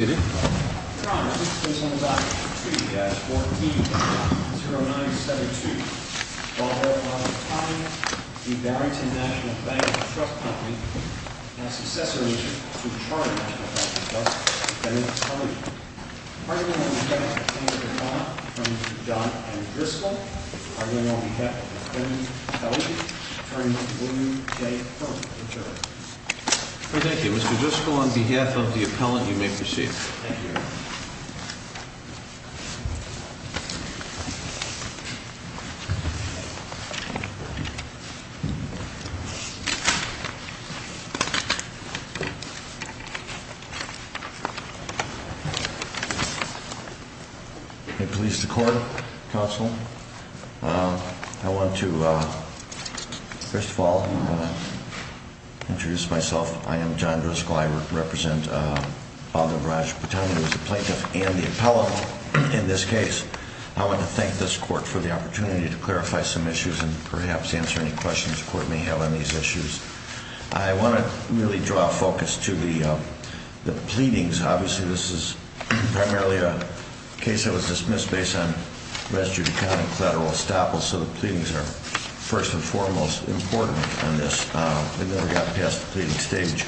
Mr. Brutani is on file for 2-14-0972. Although by the time the Barrington National Bank & Trust Company has successored to Charter Bank of Texas, they have not yet been released. The pargament will be held at the Hancock, Fremont, and Driscoll. The pargament will be held at the Fremont, Fremont, and Driscoll. The pargament will be held at the Fremont, Fremont, and Driscoll. Thank you. Mr. Driscoll, on behalf of the appellant, you may proceed. Thank you. Thank you, Mr. Court, counsel. I want to, first of all, introduce myself. I am John Driscoll. I represent Father Raj Bhutani, who is the plaintiff and the appellant in this case. I want to thank this court for the opportunity to clarify some issues and perhaps answer any questions the court may have on these issues. I want to really draw focus to the pleadings. Obviously, this is primarily a case that was dismissed based on res judicata collateral estoppel, so the pleadings are first and foremost important on this. They never got past the pleading stage.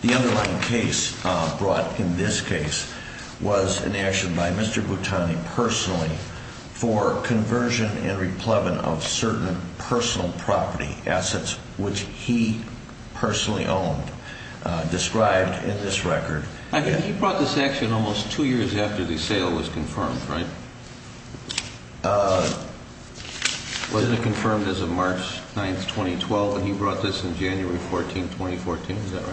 The underlying case brought in this case was an action by Mr. Bhutani personally for conversion and replevant of certain personal property assets, which he personally owned, described in this record. He brought this action almost two years after the sale was confirmed, right? Was it confirmed as of March 9, 2012, and he brought this in January 14, 2014? Is that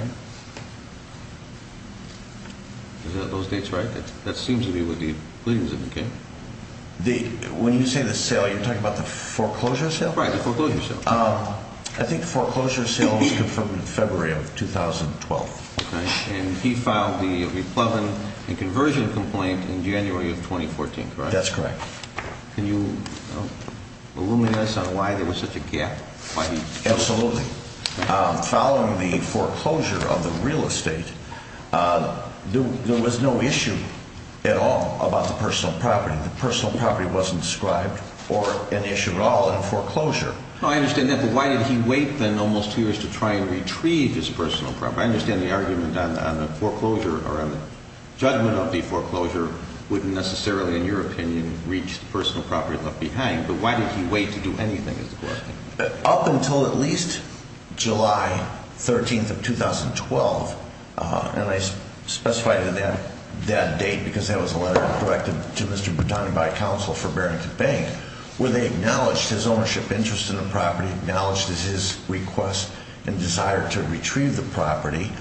right? Is those dates right? That seems to be what the pleadings have been, okay? When you say the sale, you're talking about the foreclosure sale? Right, the foreclosure sale. I think foreclosure sale was confirmed in February of 2012. Okay, and he filed the replevant and conversion complaint in January of 2014, correct? That's correct. Can you illuminate us on why there was such a gap? Absolutely. Following the foreclosure of the real estate, there was no issue at all about the personal property. The personal property wasn't described or an issue at all in the foreclosure. No, I understand that, but why did he wait then almost two years to try and retrieve his personal property? I understand the argument on the foreclosure or on the judgment of the foreclosure wouldn't necessarily, in your opinion, reach the personal property left behind, but why did he wait to do anything is the question. Up until at least July 13th of 2012, and I specified that date because that was a letter directed to Mr. Boutani by counsel for Barrington Bank, where they acknowledged his ownership interest in the property, acknowledged his request and desire to retrieve the property,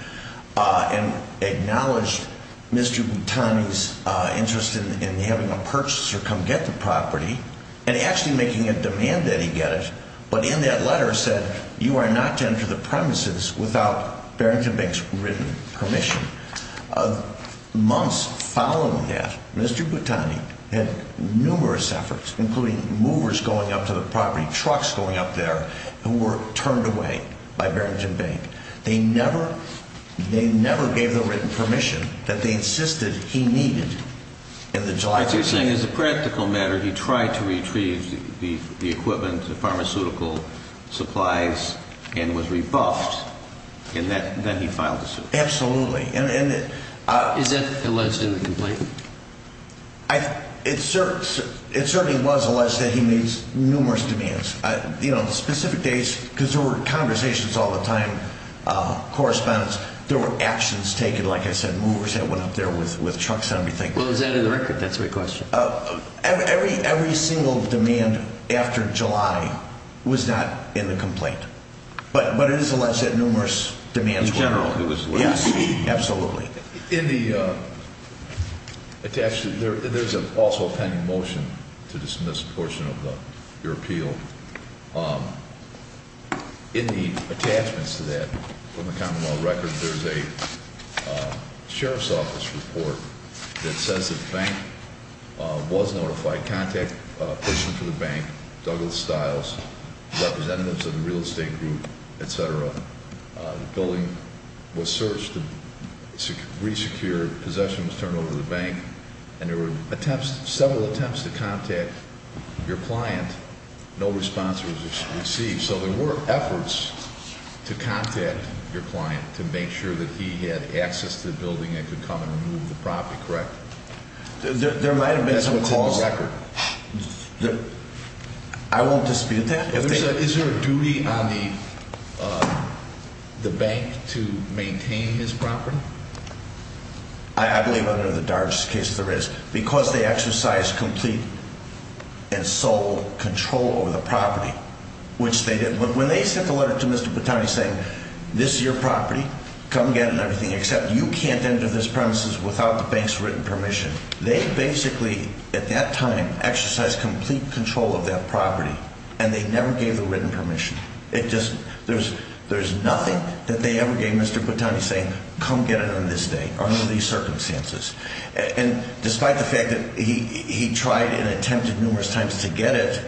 and acknowledged Mr. Boutani's interest in having a purchaser come get the property and actually making a demand that he get it. But in that letter said you are not to enter the premises without Barrington Bank's written permission. Months following that, Mr. Boutani had numerous efforts, including movers going up to the property, trucks going up there, who were turned away by Barrington Bank. They never gave the written permission that they insisted he needed in the July 13th. So you're saying as a practical matter, he tried to retrieve the equipment, the pharmaceutical supplies, and was rebuffed, and then he filed a suit? Absolutely. Is that alleged in the complaint? It certainly was alleged that he made numerous demands. You know, on specific days, because there were conversations all the time, correspondence, there were actions taken, like I said, movers that went up there with trucks and everything. Well, is that in the record? That's my question. Every single demand after July was not in the complaint. But it is alleged that numerous demands were made. In general, it was alleged. Yes, absolutely. In the attachment, there's also a pending motion to dismiss a portion of your appeal. In the attachments to that, from the commonwealth record, there's a sheriff's office report that says that the bank was notified. There were several attempts to contact your client. No response was received. So there were efforts to contact your client to make sure that he had access to the building and could come and remove the property, correct? There might have been some calls. That's what's in the record. I won't dispute that. Is there a duty on the bank to maintain his property? I believe under the DARS case there is, because they exercised complete and sole control over the property, which they did. When they sent the letter to Mr. Patani saying, this is your property, come get it and everything, except you can't enter this premises without the bank's written permission, they basically, at that time, exercised complete control of that property. And they never gave the written permission. There's nothing that they ever gave Mr. Patani saying, come get it on this day or under these circumstances. And despite the fact that he tried and attempted numerous times to get it,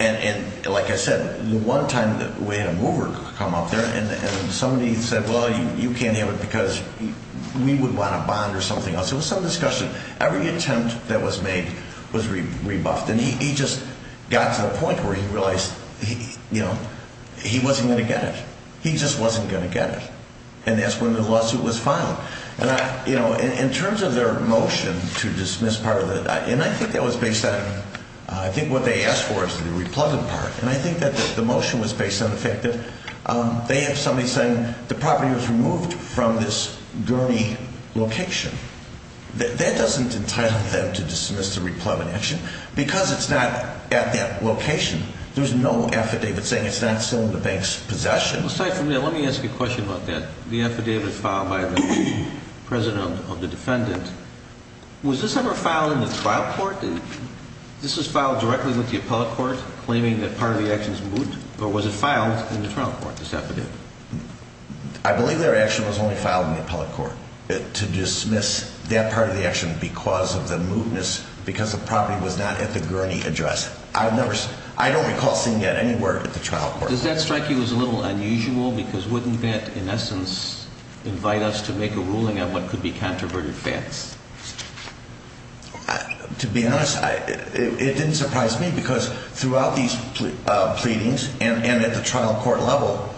and like I said, the one time we had a mover come up there and somebody said, well, you can't have it because we would want a bond or something else. It was some discussion. Every attempt that was made was rebuffed. And he just got to the point where he realized, you know, he wasn't going to get it. He just wasn't going to get it. And that's when the lawsuit was filed. And I, you know, in terms of their motion to dismiss part of it, and I think that was based on, I think what they asked for is the replugging part. And I think that the motion was based on the fact that they have somebody saying the property was removed from this gurney location. That doesn't entitle them to dismiss the replugging action. Because it's not at that location, there's no affidavit saying it's not still in the bank's possession. Aside from that, let me ask you a question about that. The affidavit filed by the president of the defendant, was this ever filed in the trial court? This was filed directly with the appellate court claiming that part of the action is moot? Or was it filed in the trial court, this affidavit? I believe their action was only filed in the appellate court to dismiss that part of the action because of the mootness, because the property was not at the gurney address. I don't recall seeing that anywhere at the trial court. Does that strike you as a little unusual? Because wouldn't that, in essence, invite us to make a ruling on what could be controverted facts? To be honest, it didn't surprise me. Because throughout these pleadings, and at the trial court level,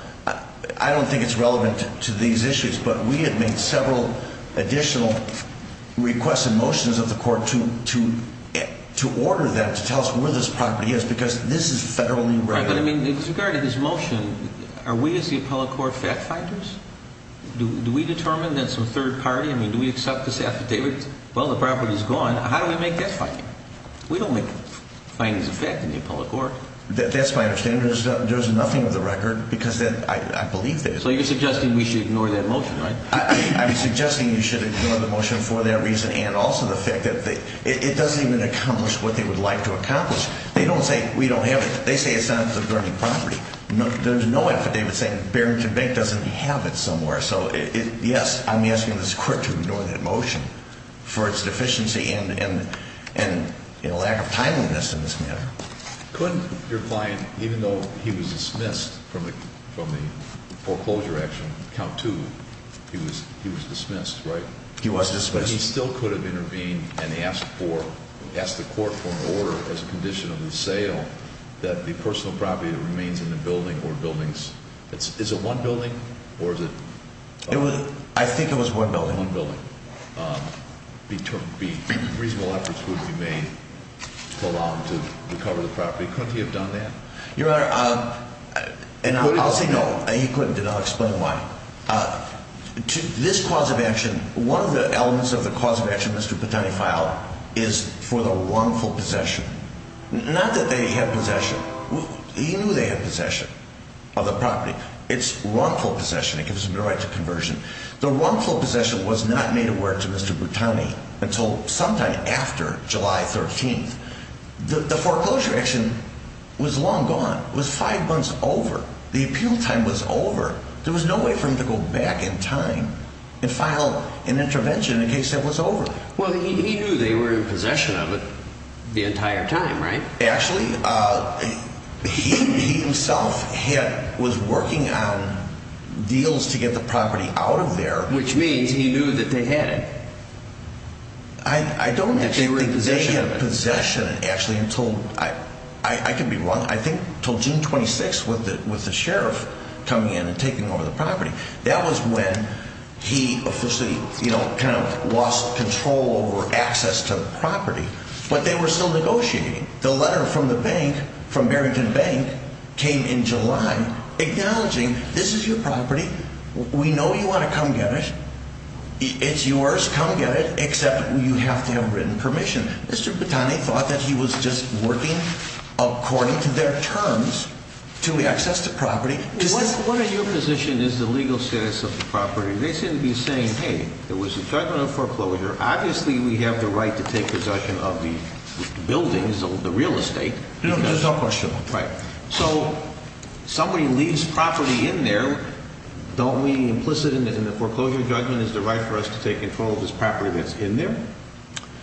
I don't think it's relevant to these issues. But we have made several additional requests and motions of the court to order them, to tell us where this property is. Because this is federally regulated. But I mean, with regard to this motion, are we as the appellate court fact-finders? Do we determine that it's a third party? I mean, do we accept this affidavit? Well, the property is gone. How do we make that finding? We don't make findings of fact in the appellate court. That's my understanding. There's nothing of the record, because I believe there is. So you're suggesting we should ignore that motion, right? I'm suggesting you should ignore the motion for that reason and also the fact that it doesn't even accomplish what they would like to accomplish. They don't say we don't have it. They say it's not at the gurney property. There's no affidavit saying Barrington Bank doesn't have it somewhere. So, yes, I'm asking this court to ignore that motion for its deficiency and lack of timeliness in this matter. Couldn't your client, even though he was dismissed from the foreclosure action, count two, he was dismissed, right? He was dismissed. But he still could have intervened and asked the court for an order as a condition of the sale that the personal property that remains in the building or buildings. Is it one building or is it? I think it was one building. One building. Reasonable efforts would be made to allow him to recover the property. Couldn't he have done that? Your Honor, and I'll say no. He couldn't. And I'll explain why. This cause of action, one of the elements of the cause of action Mr. Patani filed is for the wrongful possession. Not that they have possession. He knew they had possession of the property. It's wrongful possession. It gives them the right to conversion. The wrongful possession was not made aware to Mr. Patani until sometime after July 13th. The foreclosure action was long gone. It was five months over. The appeal time was over. There was no way for him to go back in time and file an intervention in case it was over. Well, he knew they were in possession of it the entire time, right? Actually, he himself was working on deals to get the property out of there. Which means he knew that they had it. I don't think they had possession, actually, until I can be wrong. I think until June 26th with the sheriff coming in and taking over the property. That was when he officially kind of lost control over access to the property. But they were still negotiating. The letter from the bank, from Barrington Bank, came in July acknowledging this is your property. We know you want to come get it. It's yours. Come get it. Except you have to have written permission. Mr. Patani thought that he was just working according to their terms to access the property. What are your position is the legal status of the property? They seem to be saying, hey, there was a judgment of foreclosure. Obviously, we have the right to take possession of the buildings, the real estate. There's no question. Right. So somebody leaves property in there. Don't we implicit in the foreclosure judgment is the right for us to take control of this property that's in there?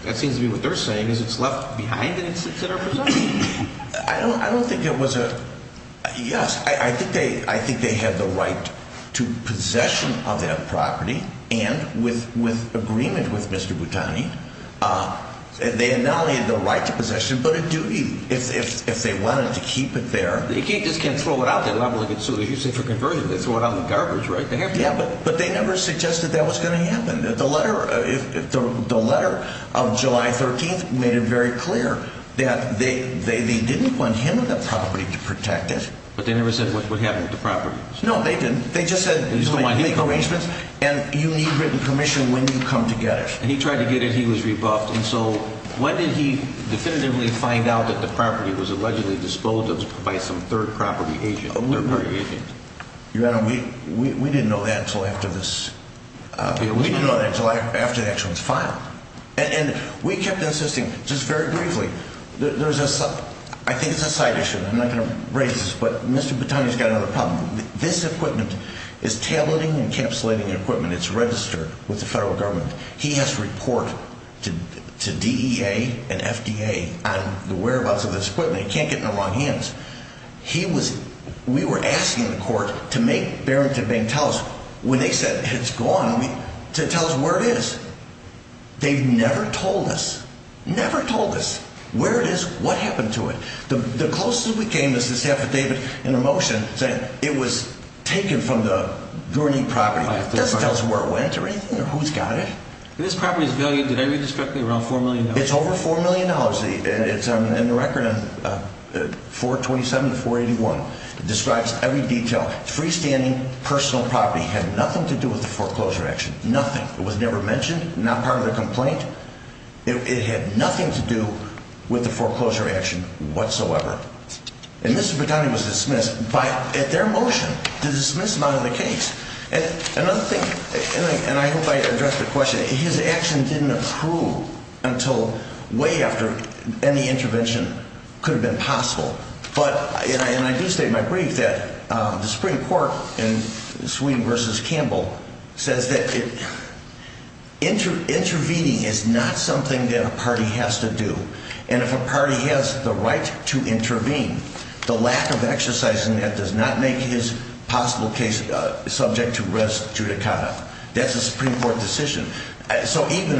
That seems to be what they're saying is it's left behind and it's at our possession. I don't I don't think it was a yes. I think they I think they have the right to possession of that property. And with with agreement with Mr. Patani, they had not only the right to possession, but a duty. If they wanted to keep it there, they can't just can't throw it out. They love it. So you say for conversion, they throw it out in the garbage. Right. But they never suggested that was going to happen. The letter of July 13th made it very clear that they they didn't want him on the property to protect it. But they never said what would happen with the property. No, they didn't. They just said these are my arrangements and you need written permission when you come to get it. And he tried to get it. He was rebuffed. And so when did he definitively find out that the property was allegedly disposed of by some third property agent? Your Honor, we we didn't know that until after this. We didn't know that until after the action was filed. And we kept insisting just very briefly. There's a I think it's a side issue. I'm not going to raise this, but Mr. Patani's got another problem. This equipment is tailoring, encapsulating equipment. It's registered with the federal government. He has to report to DEA and FDA on the whereabouts of this equipment. He can't get in the wrong hands. He was we were asking the court to make Barrington Bank tell us when they said it's gone to tell us where it is. They've never told us, never told us where it is, what happened to it. The closest we came is this affidavit in a motion saying it was taken from the Dorney property. It doesn't tell us where it went or anything or who's got it. This property is valued, did I read this correctly, around $4 million? It's over $4 million. $4 million. It's on the record, 427 to 481. It describes every detail. Freestanding personal property had nothing to do with the foreclosure action. Nothing. It was never mentioned, not part of the complaint. It had nothing to do with the foreclosure action whatsoever. And Mr. Patani was dismissed by at their motion to dismiss him out of the case. And another thing, and I hope I addressed the question, his action didn't approve until way after any intervention could have been possible. But, and I do state in my brief that the Supreme Court in Sweden v. Campbell says that intervening is not something that a party has to do. That's a Supreme Court decision. So even,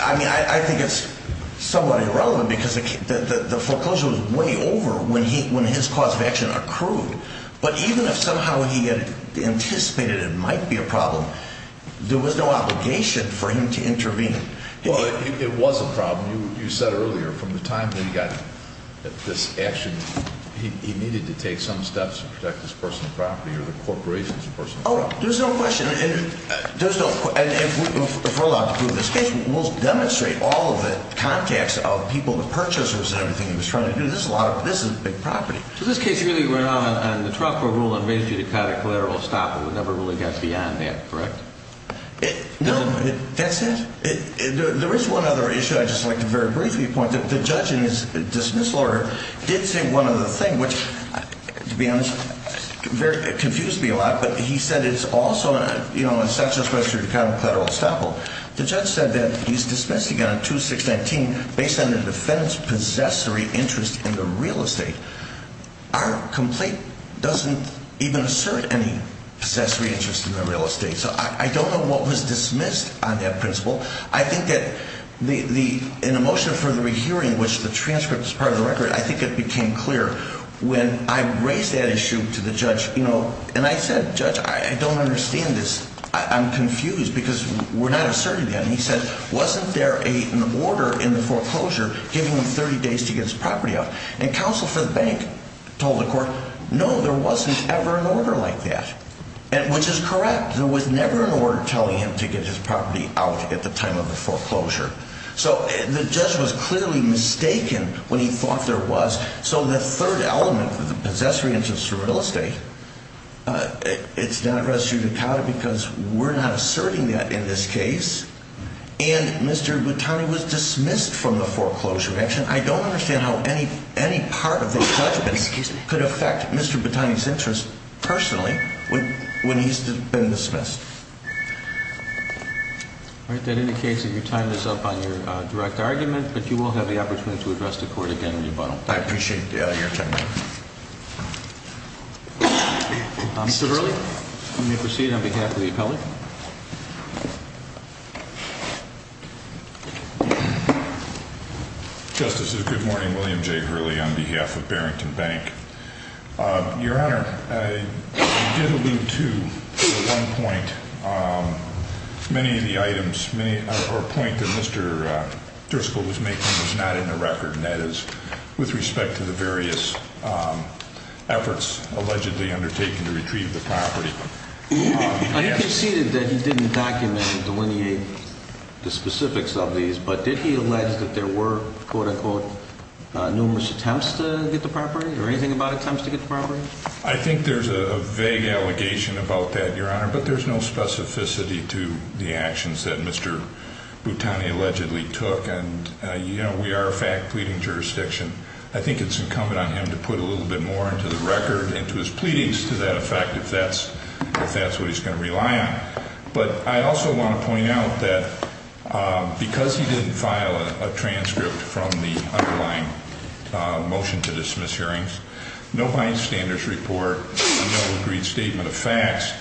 I mean, I think it's somewhat irrelevant because the foreclosure was way over when his cause of action accrued. But even if somehow he had anticipated it might be a problem, there was no obligation for him to intervene. Well, it was a problem. You said earlier, from the time that he got this action, he needed to take some steps to protect his personal property or the corporation's personal property. Oh, there's no question. And if we're allowed to prove this case, we'll demonstrate all of the contacts of people, the purchasers and everything he was trying to do. This is a lot of, this is a big property. So this case really ran on the trust court rule that made you to cut a collateral stop. It never really got beyond that, correct? No, that's it. There is one other issue I'd just like to very briefly point to. The judge in his dismissal order did say one other thing, which, to be honest, confused me a lot. But he said it's also, you know, it's not just whether you cut a collateral stop. The judge said that he's dismissing on 2619 based on the defendant's possessory interest in the real estate. Our complaint doesn't even assert any possessory interest in the real estate. So I don't know what was dismissed on that principle. I think that in the motion for the rehearing, which the transcript is part of the record, I think it became clear. When I raised that issue to the judge, you know, and I said, Judge, I don't understand this. I'm confused because we're not asserting that. And he said, wasn't there an order in the foreclosure giving him 30 days to get his property out? And counsel for the bank told the court, no, there wasn't ever an order like that, which is correct. There was never an order telling him to get his property out at the time of the foreclosure. So the judge was clearly mistaken when he thought there was. So the third element of the possessory interest in real estate, it's not res judicata because we're not asserting that in this case. And Mr. Batani was dismissed from the foreclosure action. I don't understand how any part of the judgment could affect Mr. Batani's interest personally when he's been dismissed. All right. That indicates that your time is up on your direct argument, but you will have the opportunity to address the court again in rebuttal. I appreciate your time. Mr. Verley, you may proceed on behalf of the appellate. Justices, good morning. William J. Verley on behalf of Barrington Bank. Your Honor, I did allude to at one point many of the items or point that Mr. Driscoll was making was not in the record, and that is with respect to the various efforts allegedly undertaken to retrieve the property. You conceded that he didn't document or delineate the specifics of these, but did he allege that there were, quote, unquote, numerous attempts to get the property or anything about attempts to get the property? I think there's a vague allegation about that, Your Honor, but there's no specificity to the actions that Mr. Batani allegedly took. And, you know, we are a fact pleading jurisdiction. I think it's incumbent on him to put a little bit more into the record and to his pleadings to that effect if that's what he's going to rely on. But I also want to point out that because he didn't file a transcript from the underlying motion to dismiss hearings, no bystanders report, no agreed statement of facts,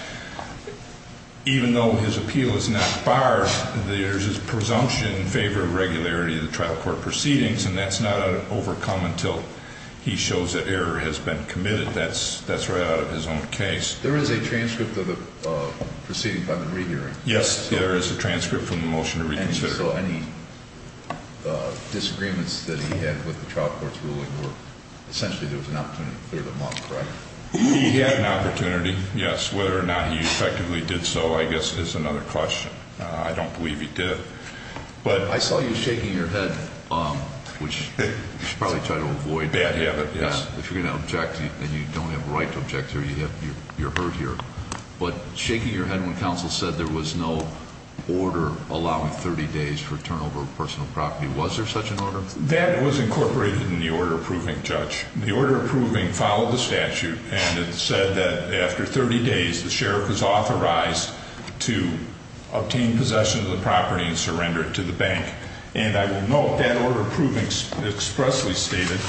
even though his appeal is not barred, there's a presumption in favor of regularity of the trial court proceedings, and that's not overcome until he shows that error has been committed. That's right out of his own case. There is a transcript of the proceeding by the rehearing. Yes, there is a transcript from the motion to reconsider. And so any disagreements that he had with the trial court's ruling were essentially there was an opportunity to clear them up, right? He had an opportunity, yes. Whether or not he effectively did so, I guess, is another question. I don't believe he did. I saw you shaking your head, which you should probably try to avoid. Bad habit, yes. If you're going to object and you don't have a right to object, you're hurt here. But shaking your head when counsel said there was no order allowing 30 days for turnover of personal property, was there such an order? That was incorporated in the order approving, Judge. The order approving followed the statute, and it said that after 30 days, the sheriff was authorized to obtain possession of the property and surrender it to the bank. And I will note that order approving expressly stated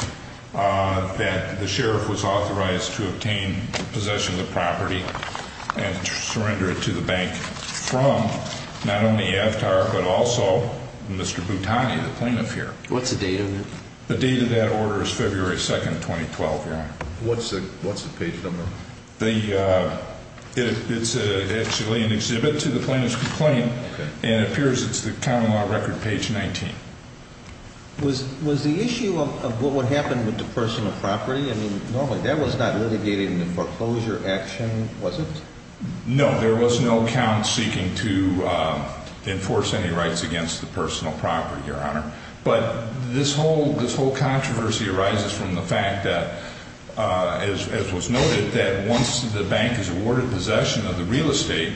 that the sheriff was authorized to obtain possession of the property and surrender it to the bank from not only Avtar but also Mr. Boutani, the plaintiff here. What's the date of it? The date of that order is February 2, 2012, Your Honor. What's the page number? It's actually an exhibit to the plaintiff's complaint, and it appears it's the county law record, page 19. Was the issue of what would happen with the personal property, I mean, normally that was not litigated in the foreclosure action, was it? No, there was no count seeking to enforce any rights against the personal property, Your Honor. But this whole controversy arises from the fact that, as was noted, that once the bank is awarded possession of the real estate,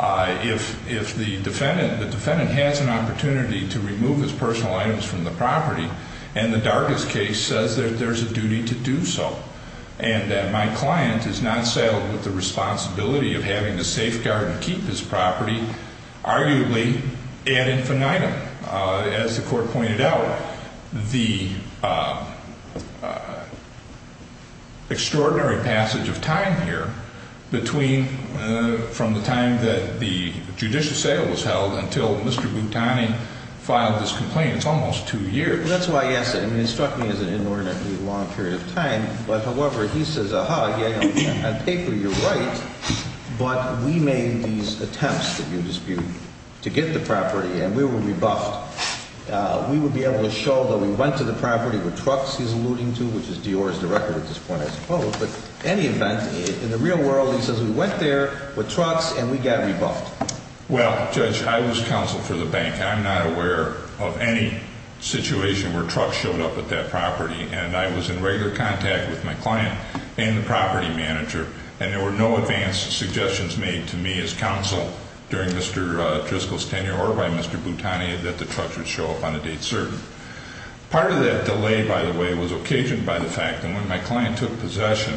if the defendant has an opportunity to remove his personal items from the property, and the Dargas case says that there's a duty to do so, and that my client is not saddled with the responsibility of having the safeguard to keep his property, arguably ad infinitum. As the Court pointed out, the extraordinary passage of time here between from the time that the judicial sale was held until Mr. Boutani filed this complaint, it's almost two years. That's why I asked that. I mean, it struck me as an inordinately long period of time. But, however, he says, aha, yeah, on paper you're right, but we made these attempts, if you dispute, to get the property, and we were rebuffed. We would be able to show that we went to the property with trucks, he's alluding to, which is Dior's record at this point, I suppose. But any event, in the real world, he says we went there with trucks and we got rebuffed. Well, Judge, I was counsel for the bank. I'm not aware of any situation where trucks showed up at that property, and I was in regular contact with my client and the property manager, and there were no advanced suggestions made to me as counsel during Mr. Driscoll's tenure or by Mr. Boutani that the trucks would show up on a date certain. Part of that delay, by the way, was occasioned by the fact that when my client took possession,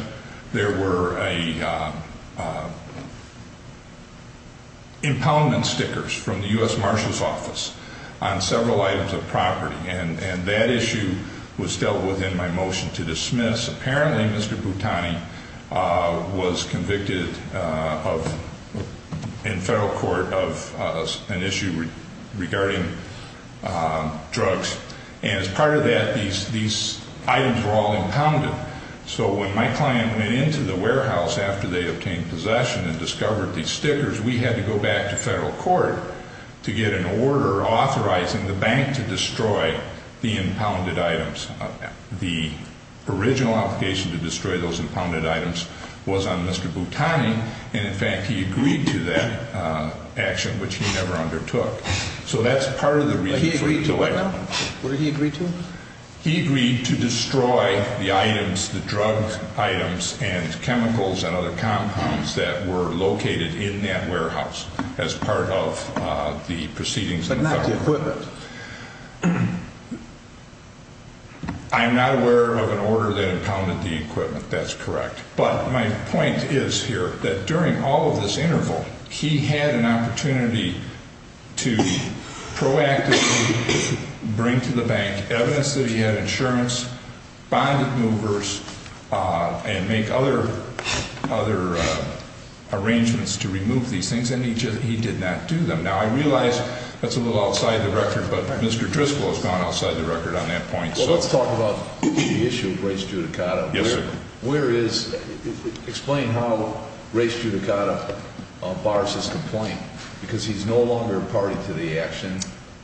there were impoundment stickers from the U.S. Marshal's Office on several items of property, and that issue was dealt with in my motion to dismiss. Apparently, Mr. Boutani was convicted in federal court of an issue regarding drugs, and as part of that, these items were all impounded. So when my client went into the warehouse after they obtained possession and discovered these stickers, we had to go back to federal court to get an order authorizing the bank to destroy the impounded items. The original obligation to destroy those impounded items was on Mr. Boutani, and in fact, he agreed to that action, which he never undertook. So that's part of the reason for the delay. What did he agree to? He agreed to destroy the items, the drug items and chemicals and other compounds that were located in that warehouse as part of the proceedings in the federal court. But not the equipment. I'm not aware of an order that impounded the equipment. That's correct. But my point is here that during all of this interval, he had an opportunity to proactively bring to the bank evidence that he had insurance, bonded movers, and make other arrangements to remove these things, and he did not do them. Now, I realize that's a little outside the record, but Mr. Driscoll has gone outside the record on that point. Well, let's talk about the issue of race judicata. Yes, sir. Explain how race judicata bars his complaint, because he's no longer a party to the action.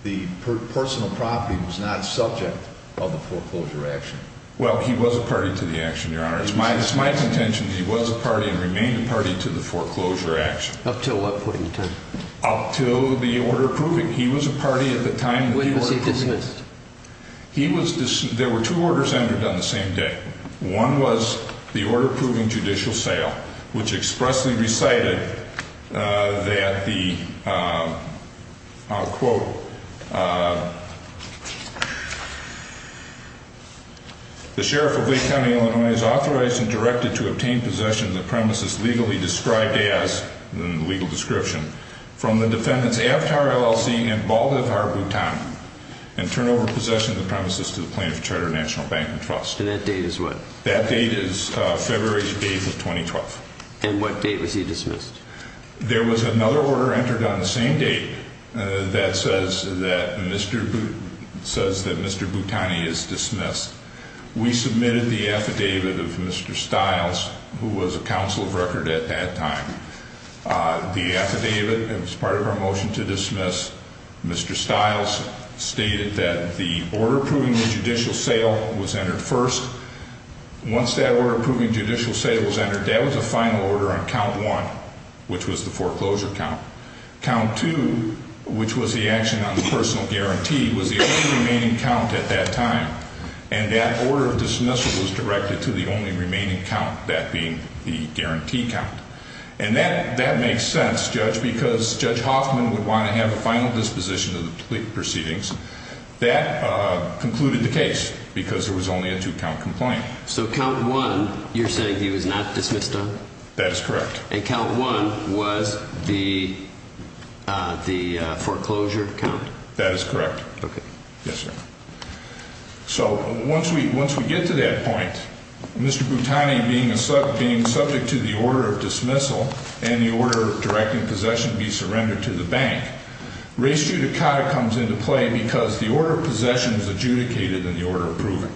The personal property was not subject of the foreclosure action. Well, he was a party to the action, Your Honor. It's my contention that he was a party and remained a party to the foreclosure action. Up to what point in time? Up to the order approving. He was a party at the time. When was he dismissed? There were two orders entered on the same day. One was the order approving judicial sale, which expressly recited that the, I'll quote, the sheriff of Lake County, Illinois, is authorized and directed to obtain possession of the premises legally described as, in the legal description, from the defendants Avtar LLC and Baldivar, Bhutan, and turn over possession of the premises to the plaintiff charter national bank and trust. And that date is what? That date is February 8th of 2012. And what date was he dismissed? There was another order entered on the same date that says that Mr. Bhutani is dismissed. We submitted the affidavit of Mr. Stiles, who was a counsel of record at that time. The affidavit, as part of our motion to dismiss, Mr. Stiles stated that the order approving the judicial sale was entered first. Once that order approving judicial sale was entered, that was a final order on count one, which was the foreclosure count. Count two, which was the action on the personal guarantee, was the only remaining count at that time. And that order of dismissal was directed to the only remaining count, that being the guarantee count. And that makes sense, Judge, because Judge Hoffman would want to have a final disposition of the proceedings. That concluded the case because there was only a two-count complaint. So count one, you're saying he was not dismissed on? That is correct. And count one was the foreclosure count? That is correct. Okay. Yes, sir. So once we get to that point, Mr. Bhutani being subject to the order of dismissal and the order of directing possession to be surrendered to the bank, race judicata comes into play because the order of possession is adjudicated in the order approving.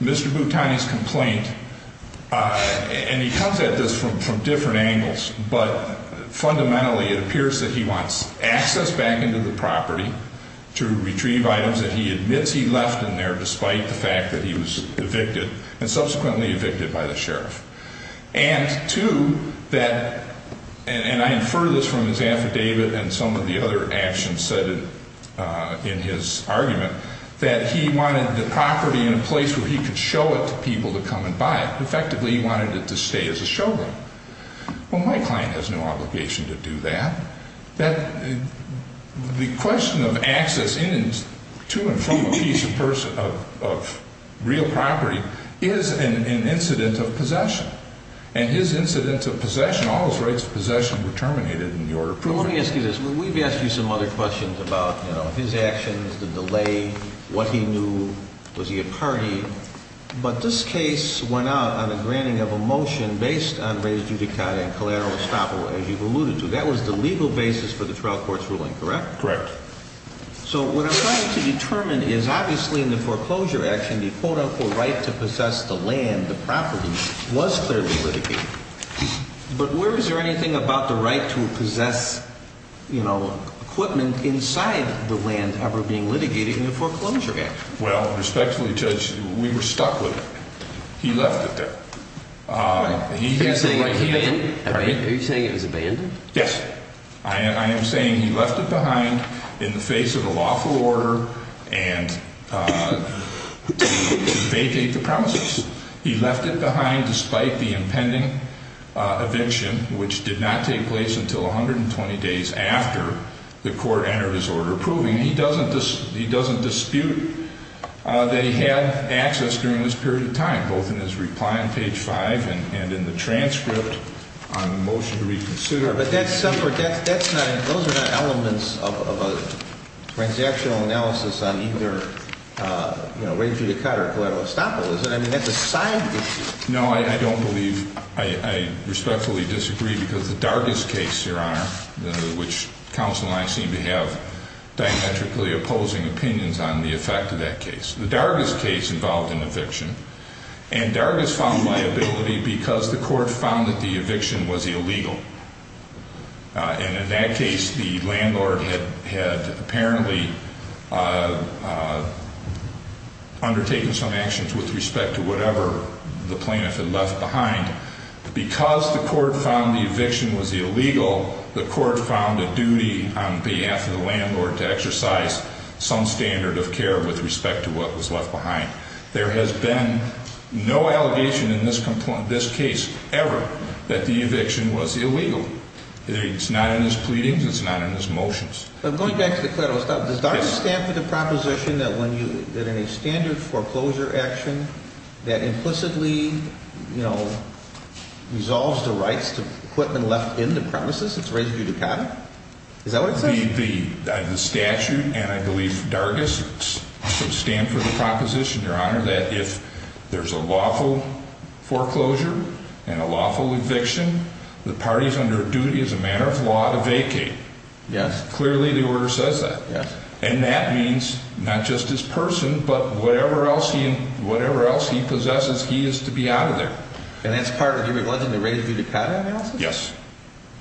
Mr. Bhutani's complaint, and he comes at this from different angles, but fundamentally it appears that he wants access back into the property to retrieve items that he admits he left in there despite the fact that he was evicted and subsequently evicted by the sheriff. And two, that, and I infer this from his affidavit and some of the other actions cited in his argument, that he wanted the property in a place where he could show it to people to come and buy it. Effectively, he wanted it to stay as a showroom. Well, my client has no obligation to do that. The question of access to and from the keys of real property is an incident of possession. And his incident of possession, all his rights of possession were terminated in the order approving. Let me ask you this. We've asked you some other questions about his actions, the delay, what he knew, was he a party? But this case went out on a granting of a motion based on race judicata and collateral estoppel, as you've alluded to. That was the legal basis for the trial court's ruling, correct? Correct. So what I'm trying to determine is, obviously, in the foreclosure action, the quote-unquote right to possess the land, the property, was clearly litigated. But where is there anything about the right to possess, you know, equipment inside the land ever being litigated in the foreclosure action? Well, respectfully, Judge, we were stuck with it. He left it there. Are you saying it was abandoned? Yes. I am saying he left it behind in the face of a lawful order and vacated the premises. He left it behind despite the impending eviction, which did not take place until 120 days after the court entered his order approving. He doesn't dispute that he had access during this period of time, both in his reply on page 5 and in the transcript on the motion to reconsider. But that's separate. Those are not elements of a transactional analysis on either race judicata or collateral estoppel, is it? I mean, that's a side issue. No, I don't believe. I respectfully disagree because the Dargis case, Your Honor, which counsel and I seem to have diametrically opposing opinions on the effect of that case. The Dargis case involved an eviction, and Dargis found liability because the court found that the eviction was illegal. And in that case, the landlord had apparently undertaken some actions with respect to whatever the plaintiff had left behind. Because the court found the eviction was illegal, the court found a duty on behalf of the landlord to exercise some standard of care with respect to what was left behind. There has been no allegation in this case ever that the eviction was illegal. It's not in his pleadings. It's not in his motions. But going back to the collateral estoppel, does Dargis stand for the proposition that when you – that in a standard foreclosure action that implicitly, you know, resolves the rights to equipment left in the premises, it's race judicata? Is that what it says? The statute and, I believe, Dargis stand for the proposition, Your Honor, that if there's a lawful foreclosure and a lawful eviction, the parties under duty as a matter of law to vacate. Yes. Clearly, the order says that. Yes. And that means not just his person, but whatever else he possesses, he is to be out of there. And that's part of the race judicata analysis? Yes.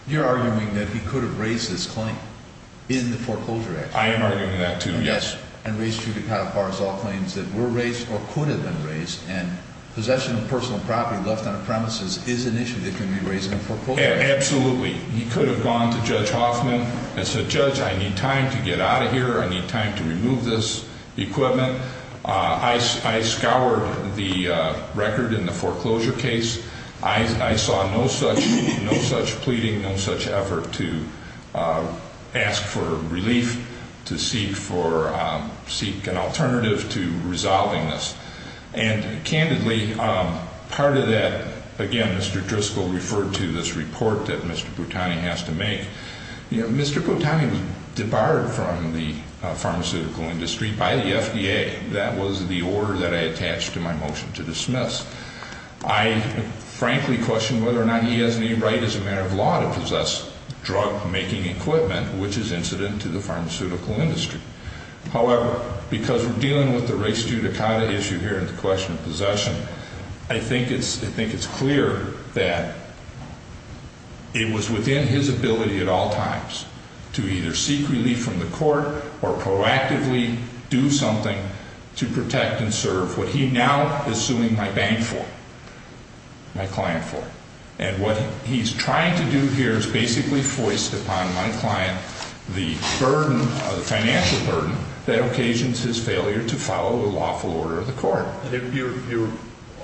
You're arguing that he could have raised this claim in the foreclosure action? I am arguing that, too. Yes. And race judicata bars all claims that were raised or could have been raised. And possession of personal property left on a premises is an issue that can be raised in a foreclosure action. Absolutely. He could have gone to Judge Hoffman and said, Judge, I need time to get out of here. I need time to remove this equipment. I scoured the record in the foreclosure case. I saw no such pleading, no such effort to ask for relief, to seek an alternative to resolving this. And, candidly, part of that, again, Mr. Driscoll referred to this report that Mr. Boutani has to make. Mr. Boutani was debarred from the pharmaceutical industry by the FDA. That was the order that I attached to my motion to dismiss. I frankly question whether or not he has any right as a matter of law to possess drug-making equipment, which is incident to the pharmaceutical industry. However, because we're dealing with the race judicata issue here and the question of possession, I think it's clear that it was within his ability at all times to either seek relief from the court or proactively do something to protect and serve. What he now is suing my bank for, my client for. And what he's trying to do here is basically foist upon my client the financial burden that occasions his failure to follow the lawful order of the court. Your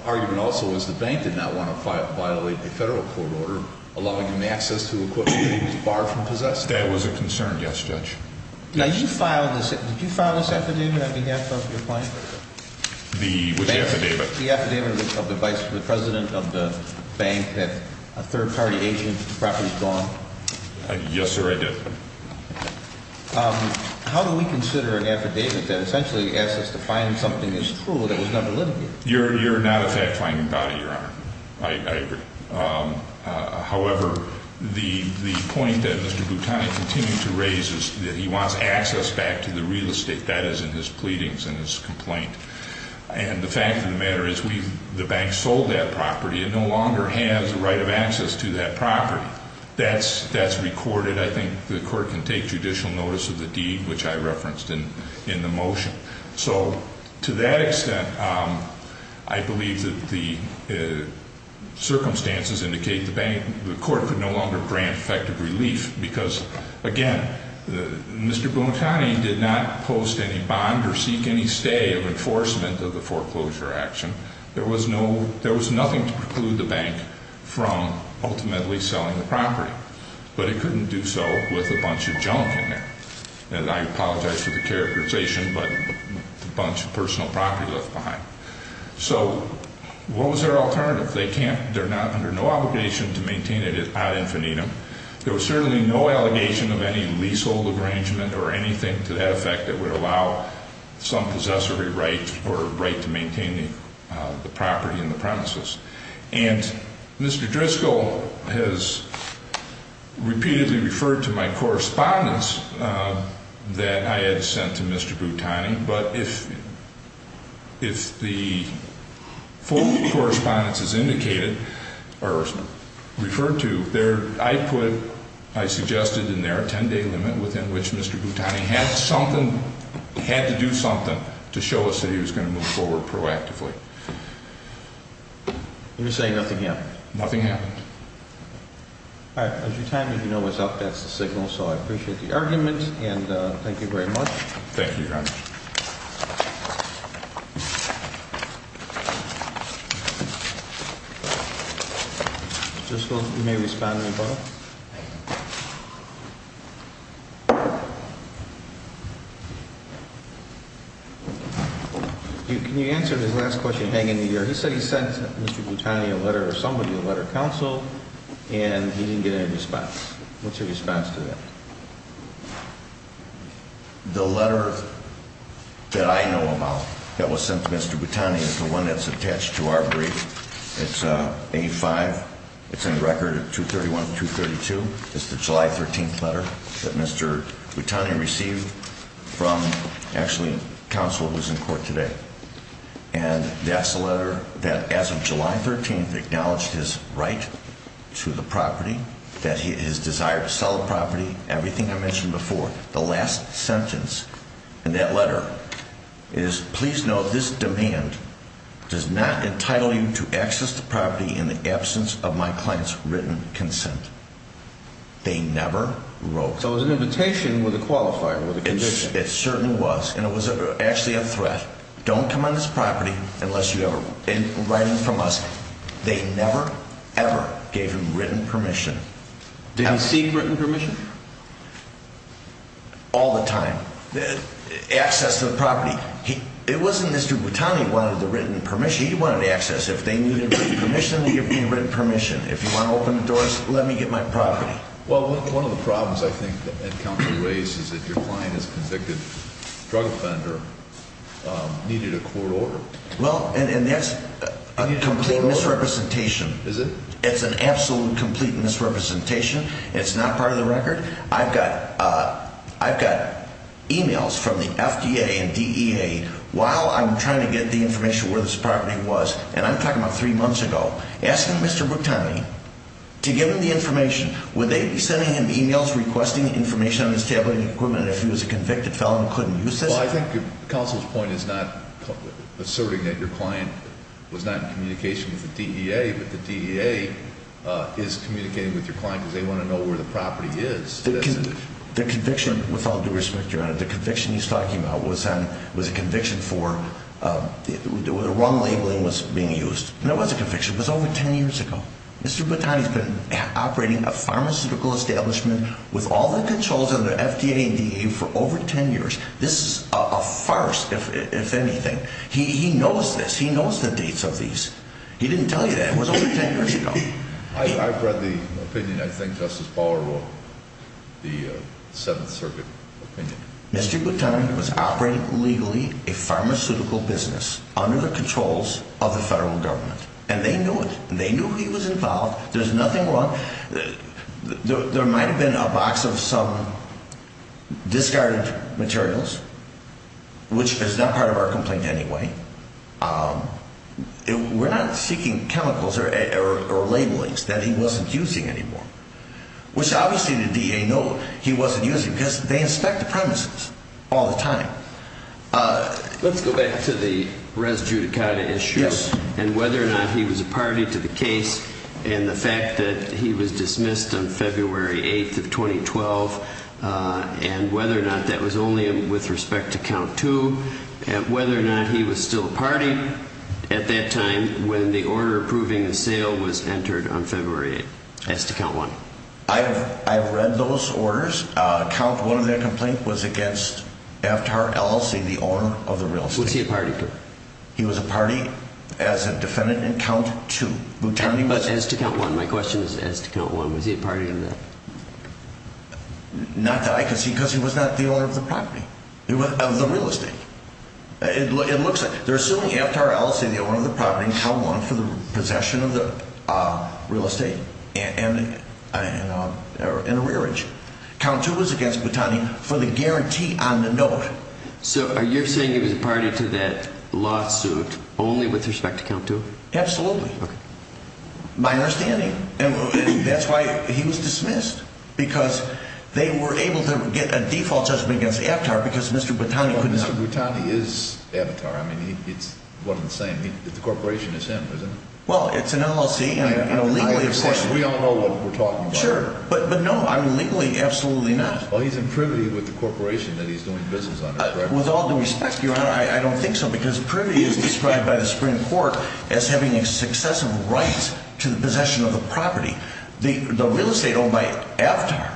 argument also was the bank did not want to violate a federal court order allowing him access to equipment that he was barred from possessing. That was a concern, yes, Judge. Now, did you file this affidavit on behalf of your client? The affidavit. The affidavit of the vice president of the bank that a third-party agent's property is gone? Yes, sir, I did. How do we consider an affidavit that essentially asks us to find something that's true that was never litigated? You're not, in fact, fighting about it, Your Honor. I agree. However, the point that Mr. Boutani continued to raise is that he wants access back to the real estate. That is in his pleadings and his complaint. And the fact of the matter is the bank sold that property. It no longer has the right of access to that property. That's recorded. I think the court can take judicial notice of the deed, which I referenced in the motion. So, to that extent, I believe that the circumstances indicate the court could no longer grant effective relief because, again, Mr. Boutani did not post any bond or seek any stay of enforcement of the foreclosure action. There was nothing to preclude the bank from ultimately selling the property. But it couldn't do so with a bunch of junk in there. And I apologize for the characterization, but a bunch of personal property left behind. So, what was their alternative? They're under no obligation to maintain it ad infinitum. There was certainly no allegation of any leasehold arrangement or anything to that effect that would allow some possessory right And Mr. Driscoll has repeatedly referred to my correspondence that I had sent to Mr. Boutani. But if the full correspondence is indicated or referred to, I suggested in there a 10-day limit within which Mr. Boutani had to do something to show us that he was going to move forward proactively. You're saying nothing happened? Nothing happened. All right. As your time as you know is up, that's the signal. So, I appreciate the argument. And thank you very much. Thank you, Your Honor. Mr. Driscoll, you may respond to the phone. Can you answer this last question hanging in the air? He said he sent Mr. Boutani a letter or somebody, a letter of counsel, and he didn't get any response. What's your response to that? The letter that I know about that was sent to Mr. Boutani is the one that's attached to our brief. It's A5. It's in record 231 and 232. It's the July 13th letter that Mr. Boutani received from, actually, counsel who's in court today. And that's the letter that, as of July 13th, acknowledged his right to the property, that his desire to sell the property. Everything I mentioned before. The last sentence in that letter is, please note this demand does not entitle you to access the property in the absence of my client's written consent. They never wrote. So, it was an invitation with a qualifier with a condition. It certainly was. And it was actually a threat. Don't come on this property unless you have a writing from us. They never, ever gave him written permission. Did he seek written permission? All the time. Access to the property. It wasn't Mr. Boutani who wanted the written permission. He wanted access. If they needed written permission, they gave me written permission. If you want to open the doors, let me get my property. Well, one of the problems I think that counsel raised is that your client is convicted drug offender, needed a court order. Well, and that's a complete misrepresentation. Is it? It's an absolute complete misrepresentation. It's not part of the record. I've got e-mails from the FDA and DEA while I'm trying to get the information where this property was. And I'm talking about three months ago. Asking Mr. Boutani to give him the information. Would they be sending him e-mails requesting information on his tabloid equipment if he was a convicted felon who couldn't use it? Well, I think counsel's point is not asserting that your client was not in communication with the DEA, but the DEA is communicating with your client because they want to know where the property is. The conviction, with all due respect, Your Honor, the conviction he's talking about was a conviction for the wrong labeling was being used. And it was a conviction. It was over 10 years ago. Mr. Boutani's been operating a pharmaceutical establishment with all the controls under FDA and DEA for over 10 years. This is a farce, if anything. He knows this. He knows the dates of these. He didn't tell you that. It was over 10 years ago. I've read the opinion. I think Justice Bauer wrote the Seventh Circuit opinion. Mr. Boutani was operating legally a pharmaceutical business under the controls of the federal government. And they knew it. They knew he was involved. There's nothing wrong. There might have been a box of some discarded materials, which is not part of our complaint anyway. We're not seeking chemicals or labelings that he wasn't using anymore, which obviously the DEA knows he wasn't using because they inspect the premises all the time. Let's go back to the res judicata issues. And whether or not he was a party to the case and the fact that he was dismissed on February 8th of 2012, and whether or not that was only with respect to count two, and whether or not he was still a party at that time when the order approving the sale was entered on February 8th as to count one. I have read those orders. Count one of their complaints was against Avtar LLC, the owner of the real estate. Was he a party to it? He was a party as a defendant in count two. As to count one, my question is as to count one. Was he a party to that? Not that I can see because he was not the owner of the property, of the real estate. It looks like they're assuming Avtar LLC, the owner of the property, count one for the possession of the real estate in a rearage. Count two was against Boutani for the guarantee on the note. So are you saying he was a party to that lawsuit only with respect to count two? Absolutely. Okay. My understanding. And that's why he was dismissed, because they were able to get a default judgment against Avtar because Mr. Boutani could not. Well, Mr. Boutani is Avtar. I mean, it's one and the same. The corporation is him, isn't it? Well, it's an LLC, and legally it's him. Of course, we all know what we're talking about. Sure. But no, I mean, legally, absolutely not. Well, he's in privity with the corporation that he's doing business under, correct? With all due respect, Your Honor, I don't think so, because privity is described by the Supreme Court as having a successive right to the possession of the property. The real estate owned by Avtar,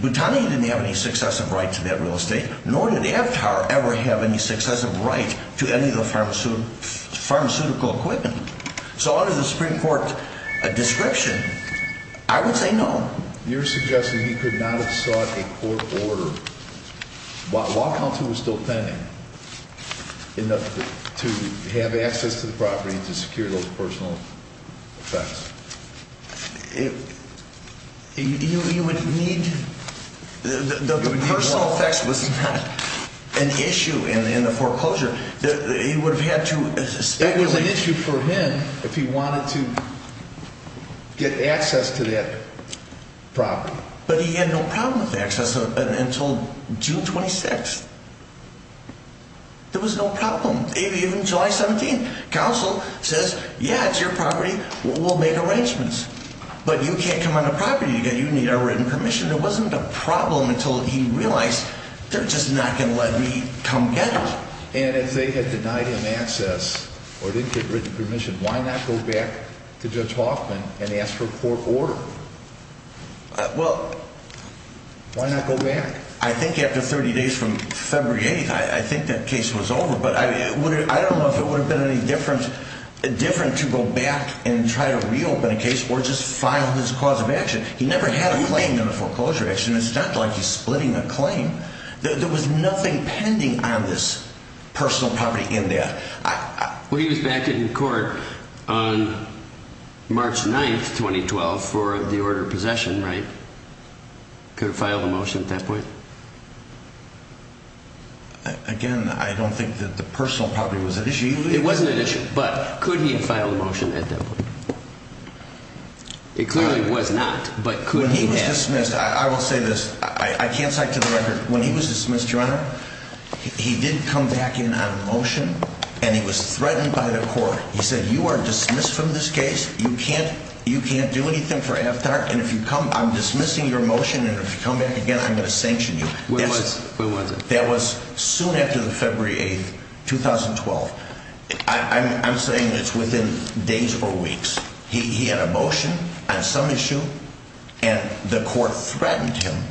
Boutani didn't have any successive right to that real estate, nor did Avtar ever have any successive right to any of the pharmaceutical equipment. So under the Supreme Court description, I would say no. Your Honor, you're suggesting he could not have sought a court order while Compton was still pending to have access to the property to secure those personal effects. You would need more. The personal effects was not an issue in the foreclosure. He would have had to speculate. It was an issue for him if he wanted to get access to that property. But he had no problem with access until June 26th. There was no problem, even July 17th. Counsel says, yeah, it's your property. We'll make arrangements. But you can't come on the property. You need a written permission. It wasn't a problem until he realized they're just not going to let me come get it. And if they had denied him access or didn't get written permission, why not go back to Judge Hoffman and ask for a court order? Well, why not go back? I think after 30 days from February 8th, I think that case was over. But I don't know if it would have been any different to go back and try to reopen a case or just file his cause of action. He never had a claim in a foreclosure action. It's not like he's splitting a claim. There was nothing pending on this personal property in there. Well, he was back in court on March 9th, 2012, for the order of possession, right? Could have filed a motion at that point. Again, I don't think that the personal property was an issue. It wasn't an issue, but could he have filed a motion at that point? It clearly was not, but could he have? He was dismissed. I will say this. I can't cite to the record. When he was dismissed, Your Honor, he did come back in on a motion, and he was threatened by the court. He said, you are dismissed from this case. You can't do anything for Aftar, and if you come, I'm dismissing your motion, and if you come back again, I'm going to sanction you. When was it? That was soon after the February 8th, 2012. I'm saying it's within days or weeks. He had a motion on some issue, and the court threatened him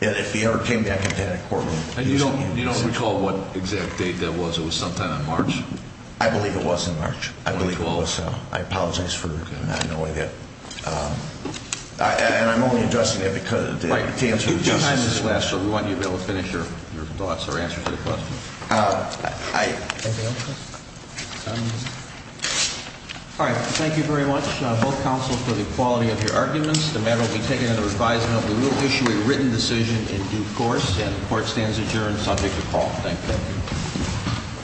that if he ever came back into that courtroom, he would be dismissed. And you don't recall what exact date that was? It was sometime in March? I believe it was in March. I believe it was. I apologize for not knowing that. And I'm only addressing that to answer your questions. Right. We want you to be able to finish your thoughts or answer to the question. Thank you. All right. Thank you very much, both counsel, for the quality of your arguments. The matter will be taken under advisement. We will issue a written decision in due course, and the court stands adjourned subject to call. Thank you.